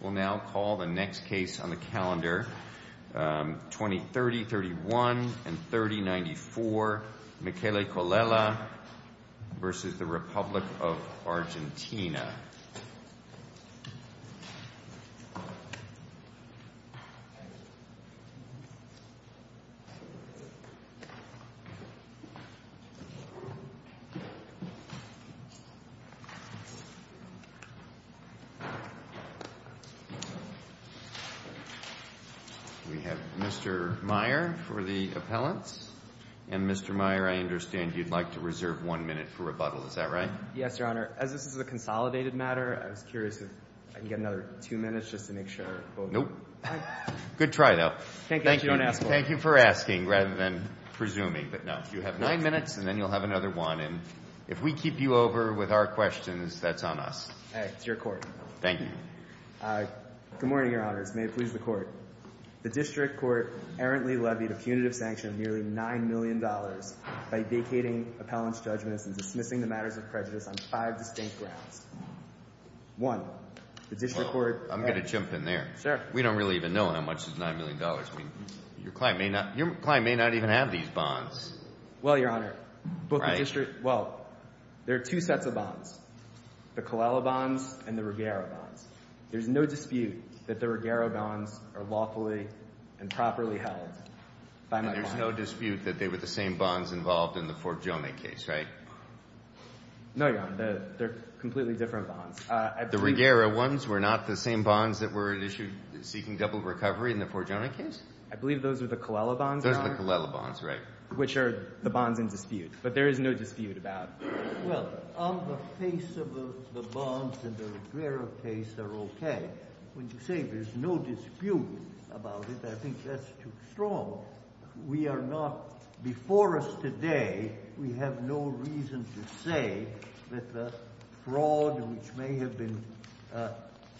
We'll now call the next case on the calendar, 20-30-31 and 30-94, Michele Collella v. The Republic of Argentina. We have Mr. Meyer for the appellants, and Mr. Meyer, I understand you'd like to reserve one minute for rebuttal, is that right? Yes, Your Honor. As this is a consolidated matter, I was curious if I could get another two minutes just to make sure. Nope. Good try, though. Thank you. Thank you for asking rather than presuming. But no, you have nine minutes and then you'll have another one. And if we keep you over with our questions, that's on us. All right. To your court. Thank you. Good morning, Your Honors. May it please the Court. The District Court errantly levied a punitive sanction of nearly $9 million by vacating appellants' judgments and dismissing the matters of prejudice on five distinct grounds. One, the District Court— I'm going to jump in there. Sure. We don't really even know how much is $9 million. Your client may not even have these bonds. Well, Your Honor, both the District— Right. Well, there are two sets of bonds, the Colella bonds and the Ruggiero bonds. There's no dispute that the Ruggiero bonds are lawfully and properly held by my client. And there's no dispute that they were the same bonds involved in the Fort Joni case, right? No, Your Honor. They're completely different bonds. The Ruggiero ones were not the same bonds that were at issue seeking double recovery in the Fort Joni case? I believe those are the Colella bonds, Your Honor. Those are the Colella bonds, right, which are the bonds in dispute. But there is no dispute about— Well, on the face of the bonds in the Ruggiero case, they're okay. When you say there's no dispute about it, I think that's too strong. We are not—before us today, we have no reason to say that the fraud which may have been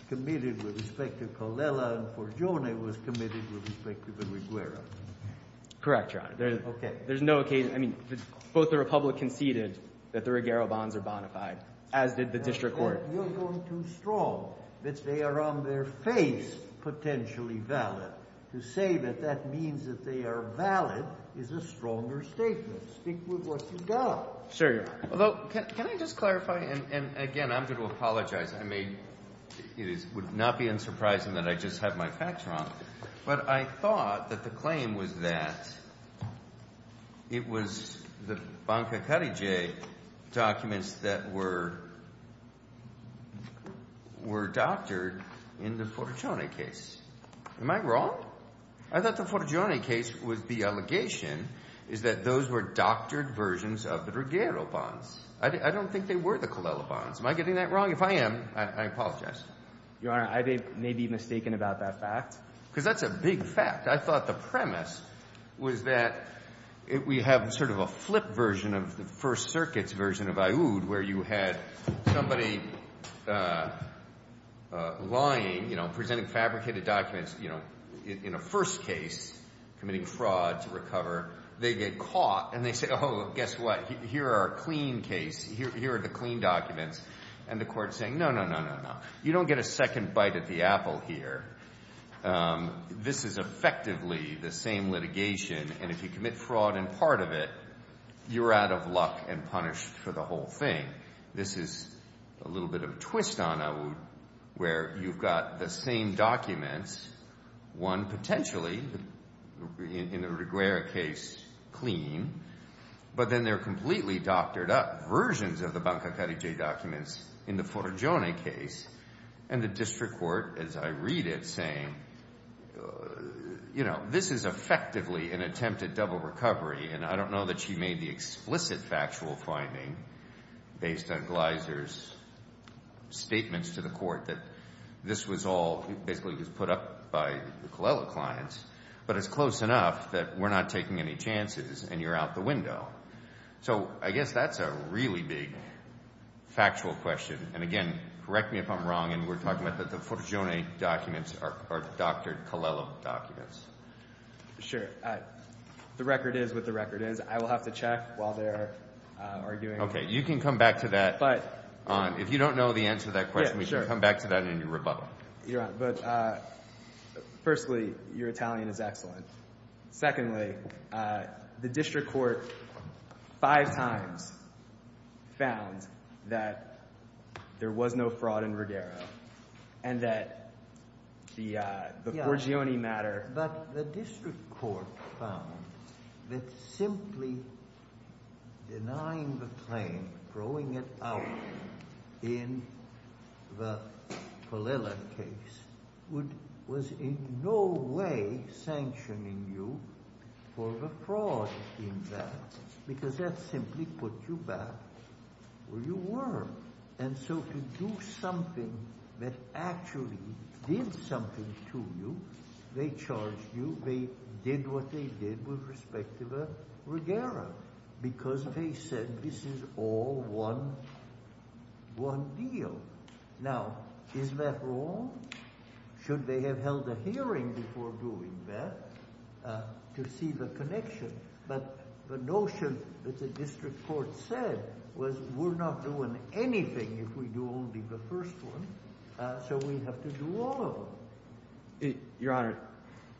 committed with respect to Colella and Fort Joni was committed with respect to the Ruggiero. Correct, Your Honor. Okay. There's no occasion—I mean, both the Republic conceded that the Ruggiero bonds are bonafide, as did the district court. You're going too strong that they are on their face potentially valid. To say that that means that they are valid is a stronger statement. Stick with what you've got. Sure, Your Honor. Although, can I just clarify? And, again, I'm going to apologize. I mean, it would not be unsurprising that I just have my facts wrong. But I thought that the claim was that it was the Banca Carrige documents that were doctored in the Fort Joni case. Am I wrong? I thought the Fort Joni case was the allegation is that those were doctored versions of the Ruggiero bonds. I don't think they were the Colella bonds. Am I getting that wrong? If I am, I apologize. Your Honor, I may be mistaken about that fact. Because that's a big fact. I thought the premise was that we have sort of a flip version of the First Circuit's version of Aoud, where you had somebody lying, you know, presenting fabricated documents, you know, in a first case, committing fraud to recover. They get caught, and they say, oh, guess what? Here are our clean case. Here are the clean documents. And the court is saying, no, no, no, no, no. You don't get a second bite at the apple here. This is effectively the same litigation, and if you commit fraud in part of it, you're out of luck and punished for the whole thing. This is a little bit of a twist on Aoud, where you've got the same documents, one potentially in the Ruggiero case clean, but then they're completely doctored up versions of the Bancaccari J documents in the Forgione case, and the district court, as I read it, saying, you know, this is effectively an attempt at double recovery, and I don't know that she made the explicit factual finding based on Gleiser's statements to the court that this was all basically was put up by the Colella clients, but it's close enough that we're not taking any chances, and you're out the window. So I guess that's a really big factual question, and again, correct me if I'm wrong, and we're talking about the Forgione documents are doctored Colella documents. Sure. The record is what the record is. I will have to check while they're arguing. Okay. You can come back to that. If you don't know the answer to that question, we can come back to that in your rebuttal. But firstly, your Italian is excellent. Secondly, the district court five times found that there was no fraud in Ruggiero and that the Forgione matter. But the district court found that simply denying the claim, throwing it out in the Colella case, was in no way sanctioning you for the fraud in that, because that simply put you back where you were. And so to do something that actually did something to you, they charged you. They did what they did with respect to the Ruggiero because they said this is all one deal. Now, is that wrong? Should they have held a hearing before doing that to see the connection? But the notion that the district court said was we're not doing anything if we do only the first one, so we have to do all of them. Your Honor,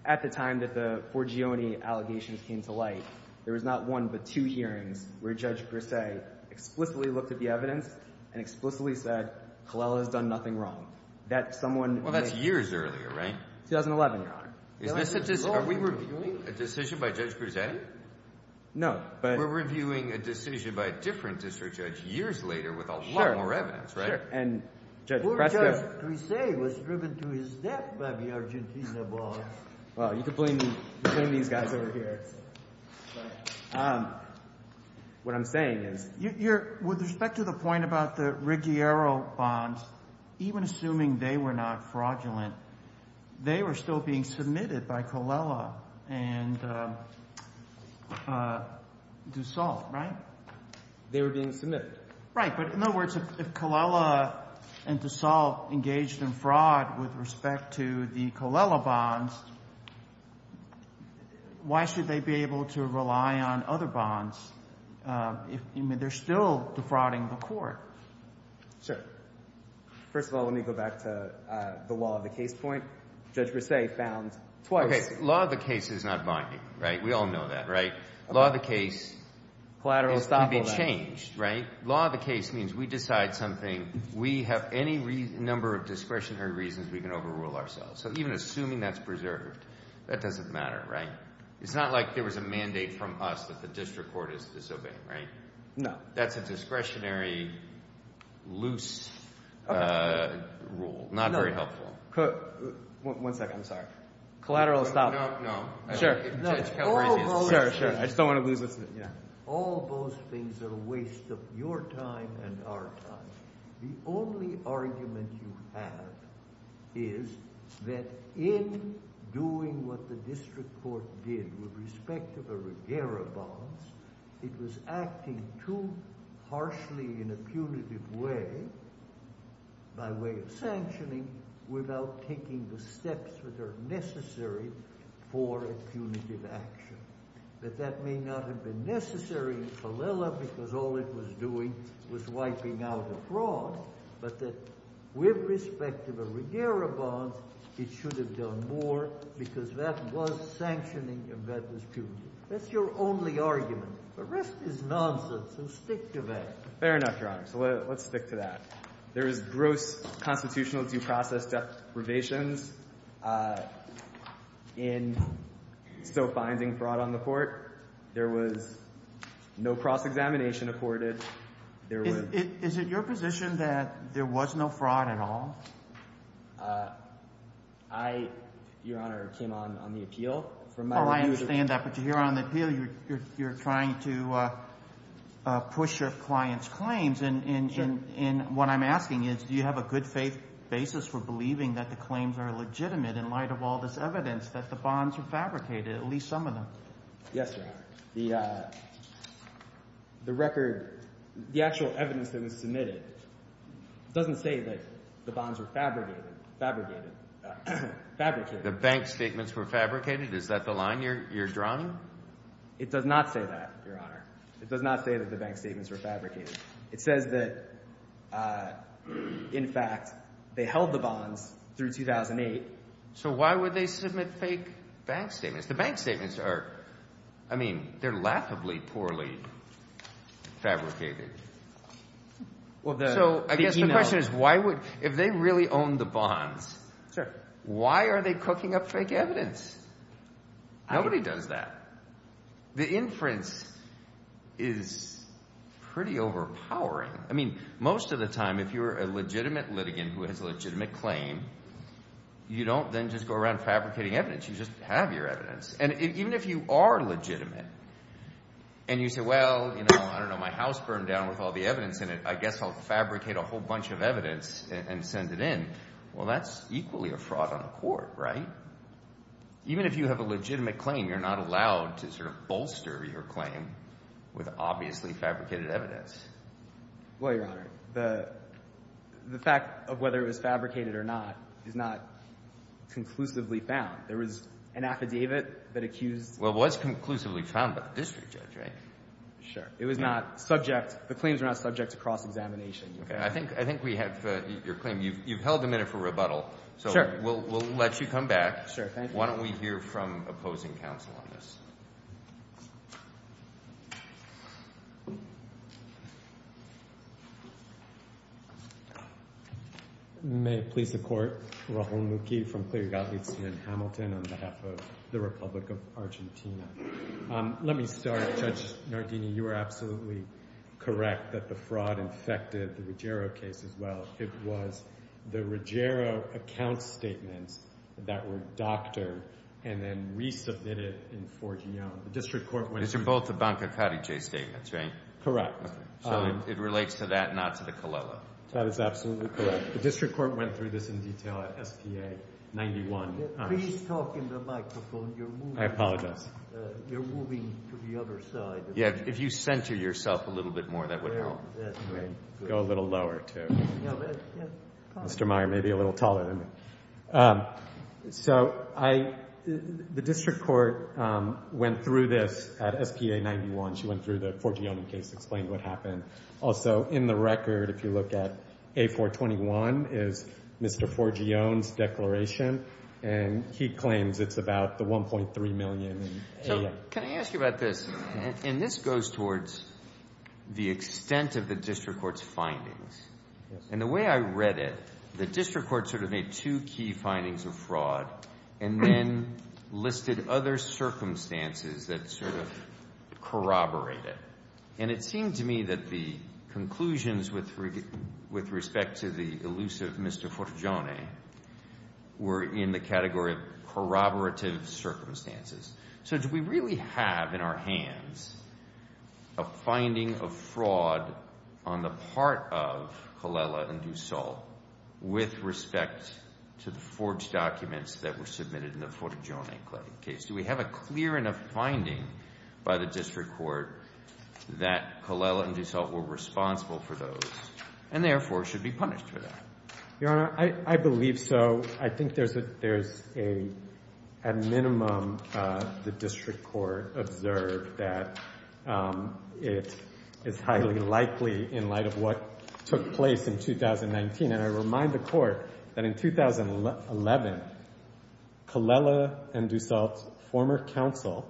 at the time that the Forgione allegations came to light, there was not one but two hearings where Judge Brisset explicitly looked at the evidence and explicitly said Colella has done nothing wrong. Well, that's years earlier, right? 2011, Your Honor. Is this a – are we reviewing a decision by Judge Brisset? No, but – We're reviewing a decision by a different district judge years later with a lot more evidence, right? Sure, sure. And Judge Brisset – Poor Judge Brisset was driven to his death by the Argentina boss. Well, you can blame these guys over here. What I'm saying is – Your – with respect to the point about the Ruggiero bonds, even assuming they were not fraudulent, they were still being submitted by Colella and Dussault, right? They were being submitted. Right, but in other words, if Colella and Dussault engaged in fraud with respect to the Colella bonds, why should they be able to rely on other bonds if – I mean, they're still defrauding the Court. Sure. First of all, let me go back to the law of the case point. Judge Brisset found twice – Okay. Law of the case is not binding, right? We all know that, right? Law of the case – Collateral stop all that. Can be changed, right? Law of the case means we decide something. We have any number of discretionary reasons we can overrule ourselves. So even assuming that's preserved, that doesn't matter, right? It's not like there was a mandate from us that the district court is disobeying, right? No. That's a discretionary, loose rule. Not very helpful. One second. I'm sorry. Collateral stop. No, no. Sure. I just don't want to lose – All those things are a waste of your time and our time. The only argument you have is that in doing what the district court did with respect to the Regera bonds, it was acting too harshly in a punitive way, by way of sanctioning, without taking the steps that are necessary for a punitive action. That that may not have been necessary in Fallella because all it was doing was wiping out a fraud, but that with respect to the Regera bonds, it should have done more because that was sanctioning and that was punitive. That's your only argument. The rest is nonsense, so stick to that. Fair enough, Your Honor. So let's stick to that. There is gross constitutional due process deprivations in still finding fraud on the court. There was no cross-examination afforded. Is it your position that there was no fraud at all? I, Your Honor, came on on the appeal. I understand that, but you're here on the appeal. You're trying to push your client's claims. And what I'm asking is do you have a good faith basis for believing that the claims are legitimate in light of all this evidence that the bonds were fabricated, at least some of them? Yes, Your Honor. The record, the actual evidence that was submitted doesn't say that the bonds were fabricated. The bank statements were fabricated? Is that the line you're drawing? It does not say that, Your Honor. It does not say that the bank statements were fabricated. It says that, in fact, they held the bonds through 2008. So why would they submit fake bank statements? The bank statements are, I mean, they're laughably poorly fabricated. So I guess the question is why would – if they really owned the bonds, why are they cooking up fake evidence? Nobody does that. The inference is pretty overpowering. I mean most of the time if you're a legitimate litigant who has a legitimate claim, you don't then just go around fabricating evidence. You just have your evidence. And even if you are legitimate and you say, well, I don't know, my house burned down with all the evidence in it. I guess I'll fabricate a whole bunch of evidence and send it in. Well, that's equally a fraud on the court, right? Even if you have a legitimate claim, you're not allowed to sort of bolster your claim with obviously fabricated evidence. Well, Your Honor, the fact of whether it was fabricated or not is not conclusively found. There was an affidavit that accused – Well, it was conclusively found by the district judge, right? Sure. It was not subject – the claims were not subject to cross-examination. Okay. I think we have your claim. You've held a minute for rebuttal. Sure. So we'll let you come back. Sure. Thank you. Why don't we hear from opposing counsel on this? May it please the Court. Rahul Mukhi from Cleary Gottlieb's in Hamilton on behalf of the Republic of Argentina. Let me start. Judge Nardini, you are absolutely correct that the fraud infected the Ruggiero case as well. It was the Ruggiero account statements that were doctored and then resubmitted in Forgione. These are both the Banca Carice statements, right? Correct. So it relates to that, not to the Colella. That is absolutely correct. The district court went through this in detail at STA 91. Please talk into the microphone. You're moving – I apologize. You're moving to the other side. Yeah. If you center yourself a little bit more, that would help. Go a little lower, too. Mr. Meyer may be a little taller than me. So the district court went through this at STA 91. She went through the Forgione case to explain what happened. Also, in the record, if you look at A421, is Mr. Forgione's declaration, and he claims it's about the $1.3 million. So can I ask you about this? And this goes towards the extent of the district court's findings. And the way I read it, the district court sort of made two key findings of fraud and then listed other circumstances that sort of corroborated. And it seemed to me that the conclusions with respect to the elusive Mr. Forgione were in the category of corroborative circumstances. So do we really have in our hands a finding of fraud on the part of Colella and Dussault with respect to the forged documents that were submitted in the Forgione case? Do we have a clear enough finding by the district court that Colella and Dussault were responsible for those and therefore should be punished for that? Your Honor, I believe so. I think there's a—at minimum, the district court observed that it is highly likely in light of what took place in 2019. And I remind the court that in 2011, Colella and Dussault's former counsel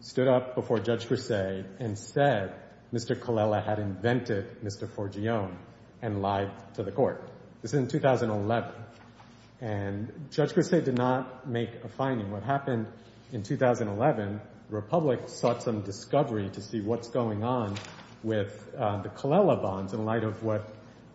stood up before Judge Versailles and said Mr. Colella had invented Mr. Forgione and lied to the court. This is in 2011. And Judge Versailles did not make a finding. What happened in 2011, the Republic sought some discovery to see what's going on with the Colella bonds in light of what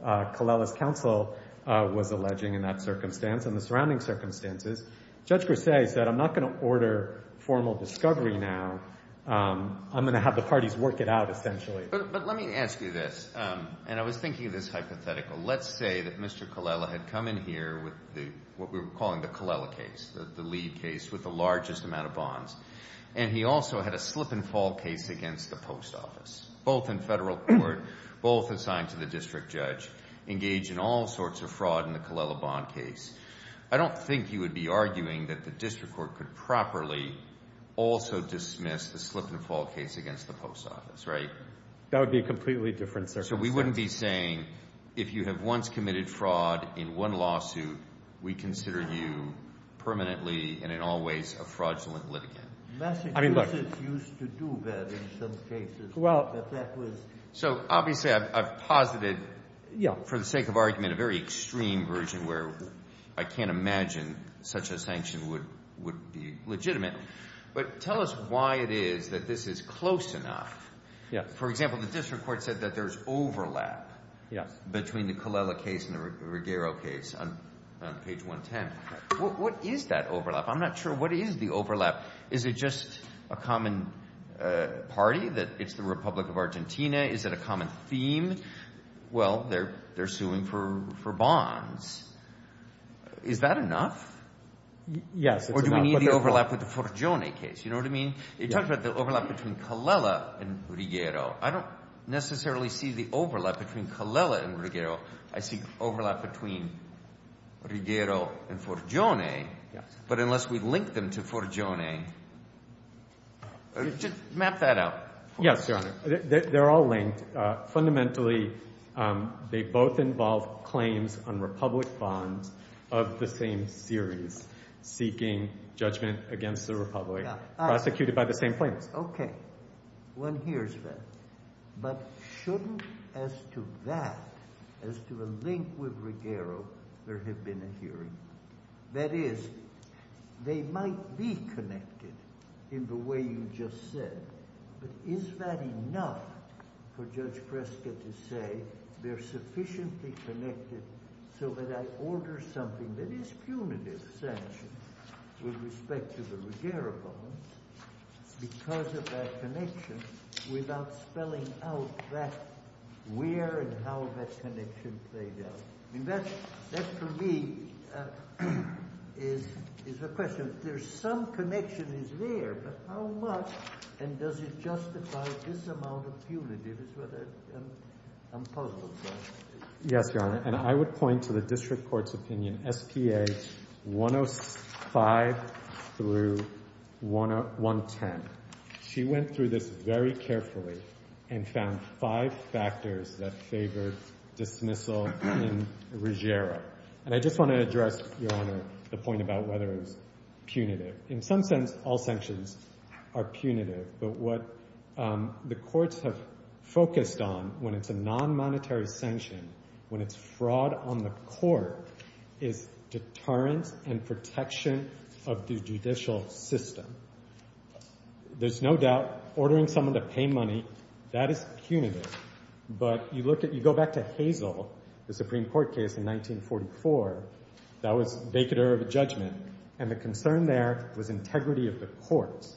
Colella's counsel was alleging in that circumstance and the surrounding circumstances. Judge Versailles said I'm not going to order formal discovery now. I'm going to have the parties work it out essentially. But let me ask you this, and I was thinking of this hypothetical. Let's say that Mr. Colella had come in here with what we were calling the Colella case, the lead case with the largest amount of bonds, and he also had a slip-and-fall case against the post office, both in federal court, both assigned to the district judge, engaged in all sorts of fraud in the Colella bond case. I don't think you would be arguing that the district court could properly also dismiss the slip-and-fall case against the post office, right? That would be a completely different circumstance. So we wouldn't be saying if you have once committed fraud in one lawsuit, we consider you permanently and in all ways a fraudulent litigant. Massachusetts used to do that in some cases. So obviously I've posited for the sake of argument a very extreme version where I can't imagine such a sanction would be legitimate. But tell us why it is that this is close enough. For example, the district court said that there's overlap between the Colella case and the Ruggiero case on page 110. What is that overlap? I'm not sure what is the overlap. Is it just a common party, that it's the Republic of Argentina? Is it a common theme? Well, they're suing for bonds. Is that enough? Yes, it's enough. Or do we need the overlap with the Forgione case? You know what I mean? You talked about the overlap between Colella and Ruggiero. I don't necessarily see the overlap between Colella and Ruggiero. I see overlap between Ruggiero and Forgione, but unless we link them to Forgione. Just map that out. Yes, Your Honor. They're all linked. Fundamentally, they both involve claims on Republic bonds of the same series, seeking judgment against the Republic. Prosecuted by the same claims. Okay. One hears that. But shouldn't, as to that, as to a link with Ruggiero, there have been a hearing? That is, they might be connected in the way you just said. But is that enough for Judge Kresge to say they're sufficiently connected so that I order something that is punitive sanction with respect to the Ruggiero bonds because of that connection without spelling out that where and how that connection played out? That, for me, is a question. There's some connection is there, but how much? And does it justify this amount of punitive? I'm puzzled by that. Yes, Your Honor. And I would point to the district court's opinion, SPA 105 through 110. She went through this very carefully and found five factors that favored dismissal in Ruggiero. And I just want to address, Your Honor, the point about whether it was punitive. In some sense, all sanctions are punitive. But what the courts have focused on when it's a non-monetary sanction, when it's fraud on the court, is deterrence and protection of the judicial system. There's no doubt ordering someone to pay money, that is punitive. But you look at, you go back to Hazel, the Supreme Court case in 1944. That was vacater of a judgment. And the concern there was integrity of the courts.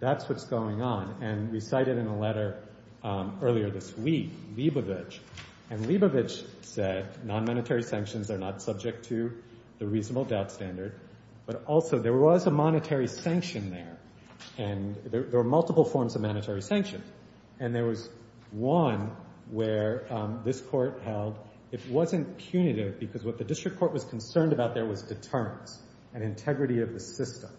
That's what's going on. And we cite it in a letter earlier this week, Leibovitch. And Leibovitch said non-monetary sanctions are not subject to the reasonable doubt standard. But also, there was a monetary sanction there. And there were multiple forms of monetary sanction. And there was one where this court held it wasn't punitive because what the district court was concerned about there was deterrence and integrity of the system.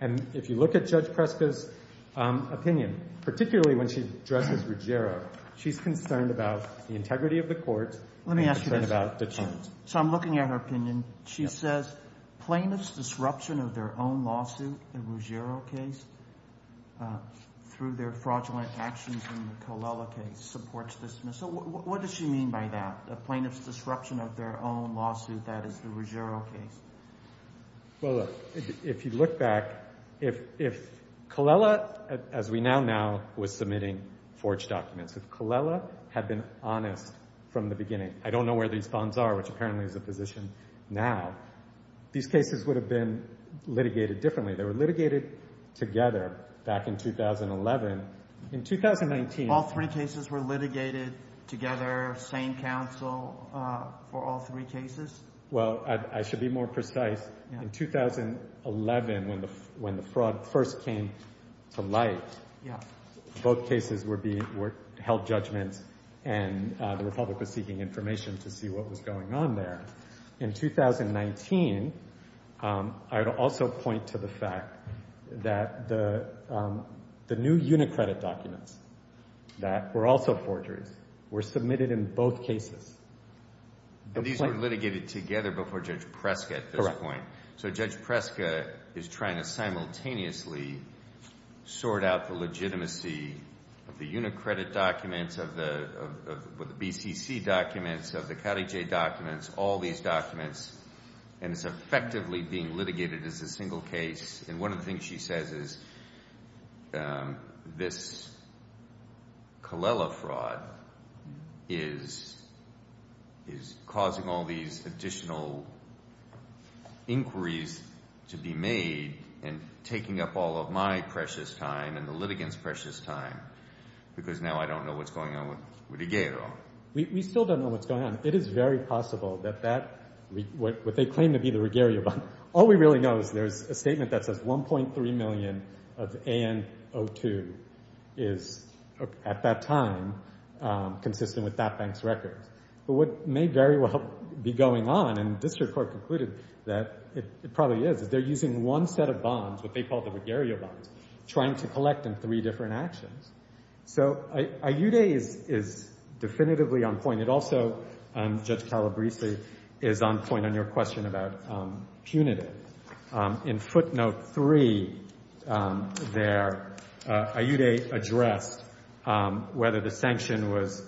And if you look at Judge Preska's opinion, particularly when she addresses Ruggiero, she's concerned about the integrity of the court. Let me ask you this. She's concerned about deterrence. So I'm looking at her opinion. She says plaintiff's disruption of their own lawsuit, the Ruggiero case, through their fraudulent actions in the Colella case supports dismissal. What does she mean by that, the plaintiff's disruption of their own lawsuit, that is the Ruggiero case? Well, look, if you look back, if Colella, as we now know, was submitting forged documents, if Colella had been honest from the beginning, I don't know where these bonds are, which apparently is the position now, these cases would have been litigated differently. They were litigated together back in 2011. In 2019— All three cases were litigated together, same counsel for all three cases? Well, I should be more precise. In 2011, when the fraud first came to light, both cases were held judgment, and the Republic was seeking information to see what was going on there. In 2019, I would also point to the fact that the new unicredit documents that were also forgeries were submitted in both cases. And these were litigated together before Judge Preska at this point. Correct. So Judge Preska is trying to simultaneously sort out the legitimacy of the unicredit documents, of the BCC documents, of the Carrie J documents, all these documents, and it's effectively being litigated as a single case. And one of the things she says is this Colella fraud is causing all these additional inquiries to be made and taking up all of my precious time and the litigants' precious time, because now I don't know what's going on with Rodriguero. We still don't know what's going on. It is very possible that that, what they claim to be the Ruggiero bond, all we really know is there's a statement that says 1.3 million of AN02 is, at that time, consistent with that bank's records. But what may very well be going on, and this report concluded that it probably is, is they're using one set of bonds, what they call the Ruggiero bonds, trying to collect in three different actions. So Ayude is definitively on point. It also, Judge Calabresi, is on point on your question about punitive. In footnote 3 there, Ayude addressed whether the sanction was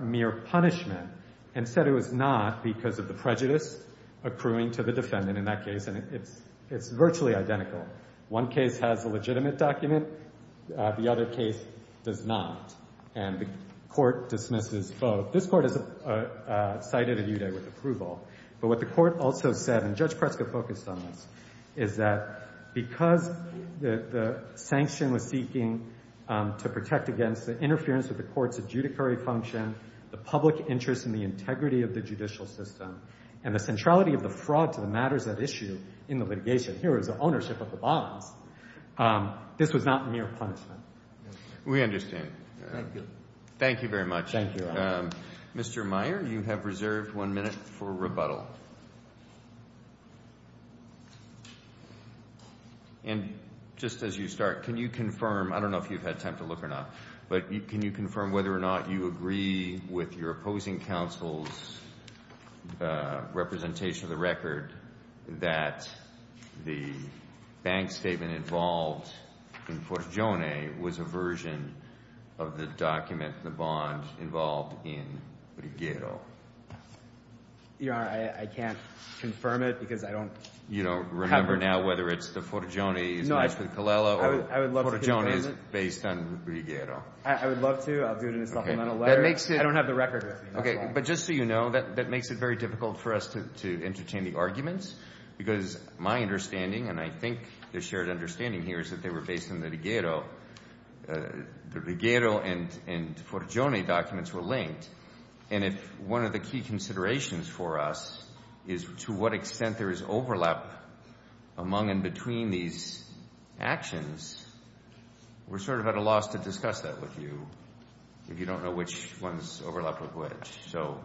mere punishment and said it was not because of the prejudice accruing to the defendant in that case, and it's virtually identical. One case has a legitimate document. The other case does not. And the court dismisses both. This court has cited Ayude with approval. But what the court also said, and Judge Pretzker focused on this, is that because the sanction was seeking to protect against the interference of the court's adjudicary function, the public interest in the integrity of the judicial system, and the centrality of the fraud to the matters at issue in the litigation, here is the ownership of the bonds, this was not mere punishment. We understand. Thank you. Thank you very much. Thank you. And just as you start, can you confirm, I don't know if you've had time to look or not, but can you confirm whether or not you agree with your opposing counsel's representation of the record that the bank statement involved in Purgione was a version of the document, the bond involved in Riguero? Your Honor, I can't confirm it because I don't have it. You don't remember now whether it's the Purgione is matched with Colella or Purgione is based on Riguero? I would love to. I'll do it in a supplemental letter. I don't have the record with me, that's why. But just so you know, that makes it very difficult for us to entertain the arguments because my understanding, and I think the shared understanding here is that they were based on the Riguero, the Riguero and Purgione documents were linked. And if one of the key considerations for us is to what extent there is overlap among and between these actions, we're sort of at a loss to discuss that with you if you don't know which ones overlap with which. So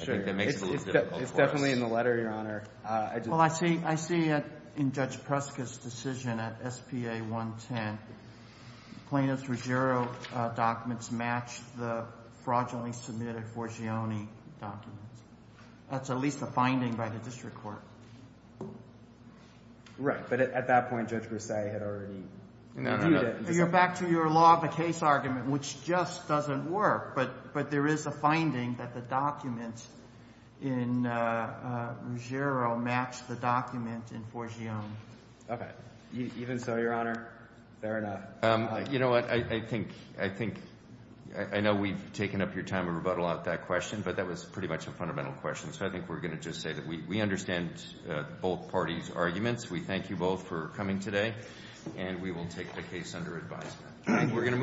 I think that makes it a little difficult for us. It's definitely in the letter, Your Honor. Well, I see it in Judge Preska's decision at SPA 110. Plaintiff's Riguero documents match the fraudulently submitted Purgione documents. That's at least a finding by the district court. Right. But at that point, Judge Brassai had already… No, no, no. Back to your law of the case argument, which just doesn't work. But there is a finding that the documents in Riguero match the document in Purgione. Okay. Even so, Your Honor, fair enough. You know what? I think – I know we've taken up your time to rebuttal out that question, but that was pretty much a fundamental question. So I think we're going to just say that we understand both parties' arguments. We thank you both for coming today, and we will take the case under advisement.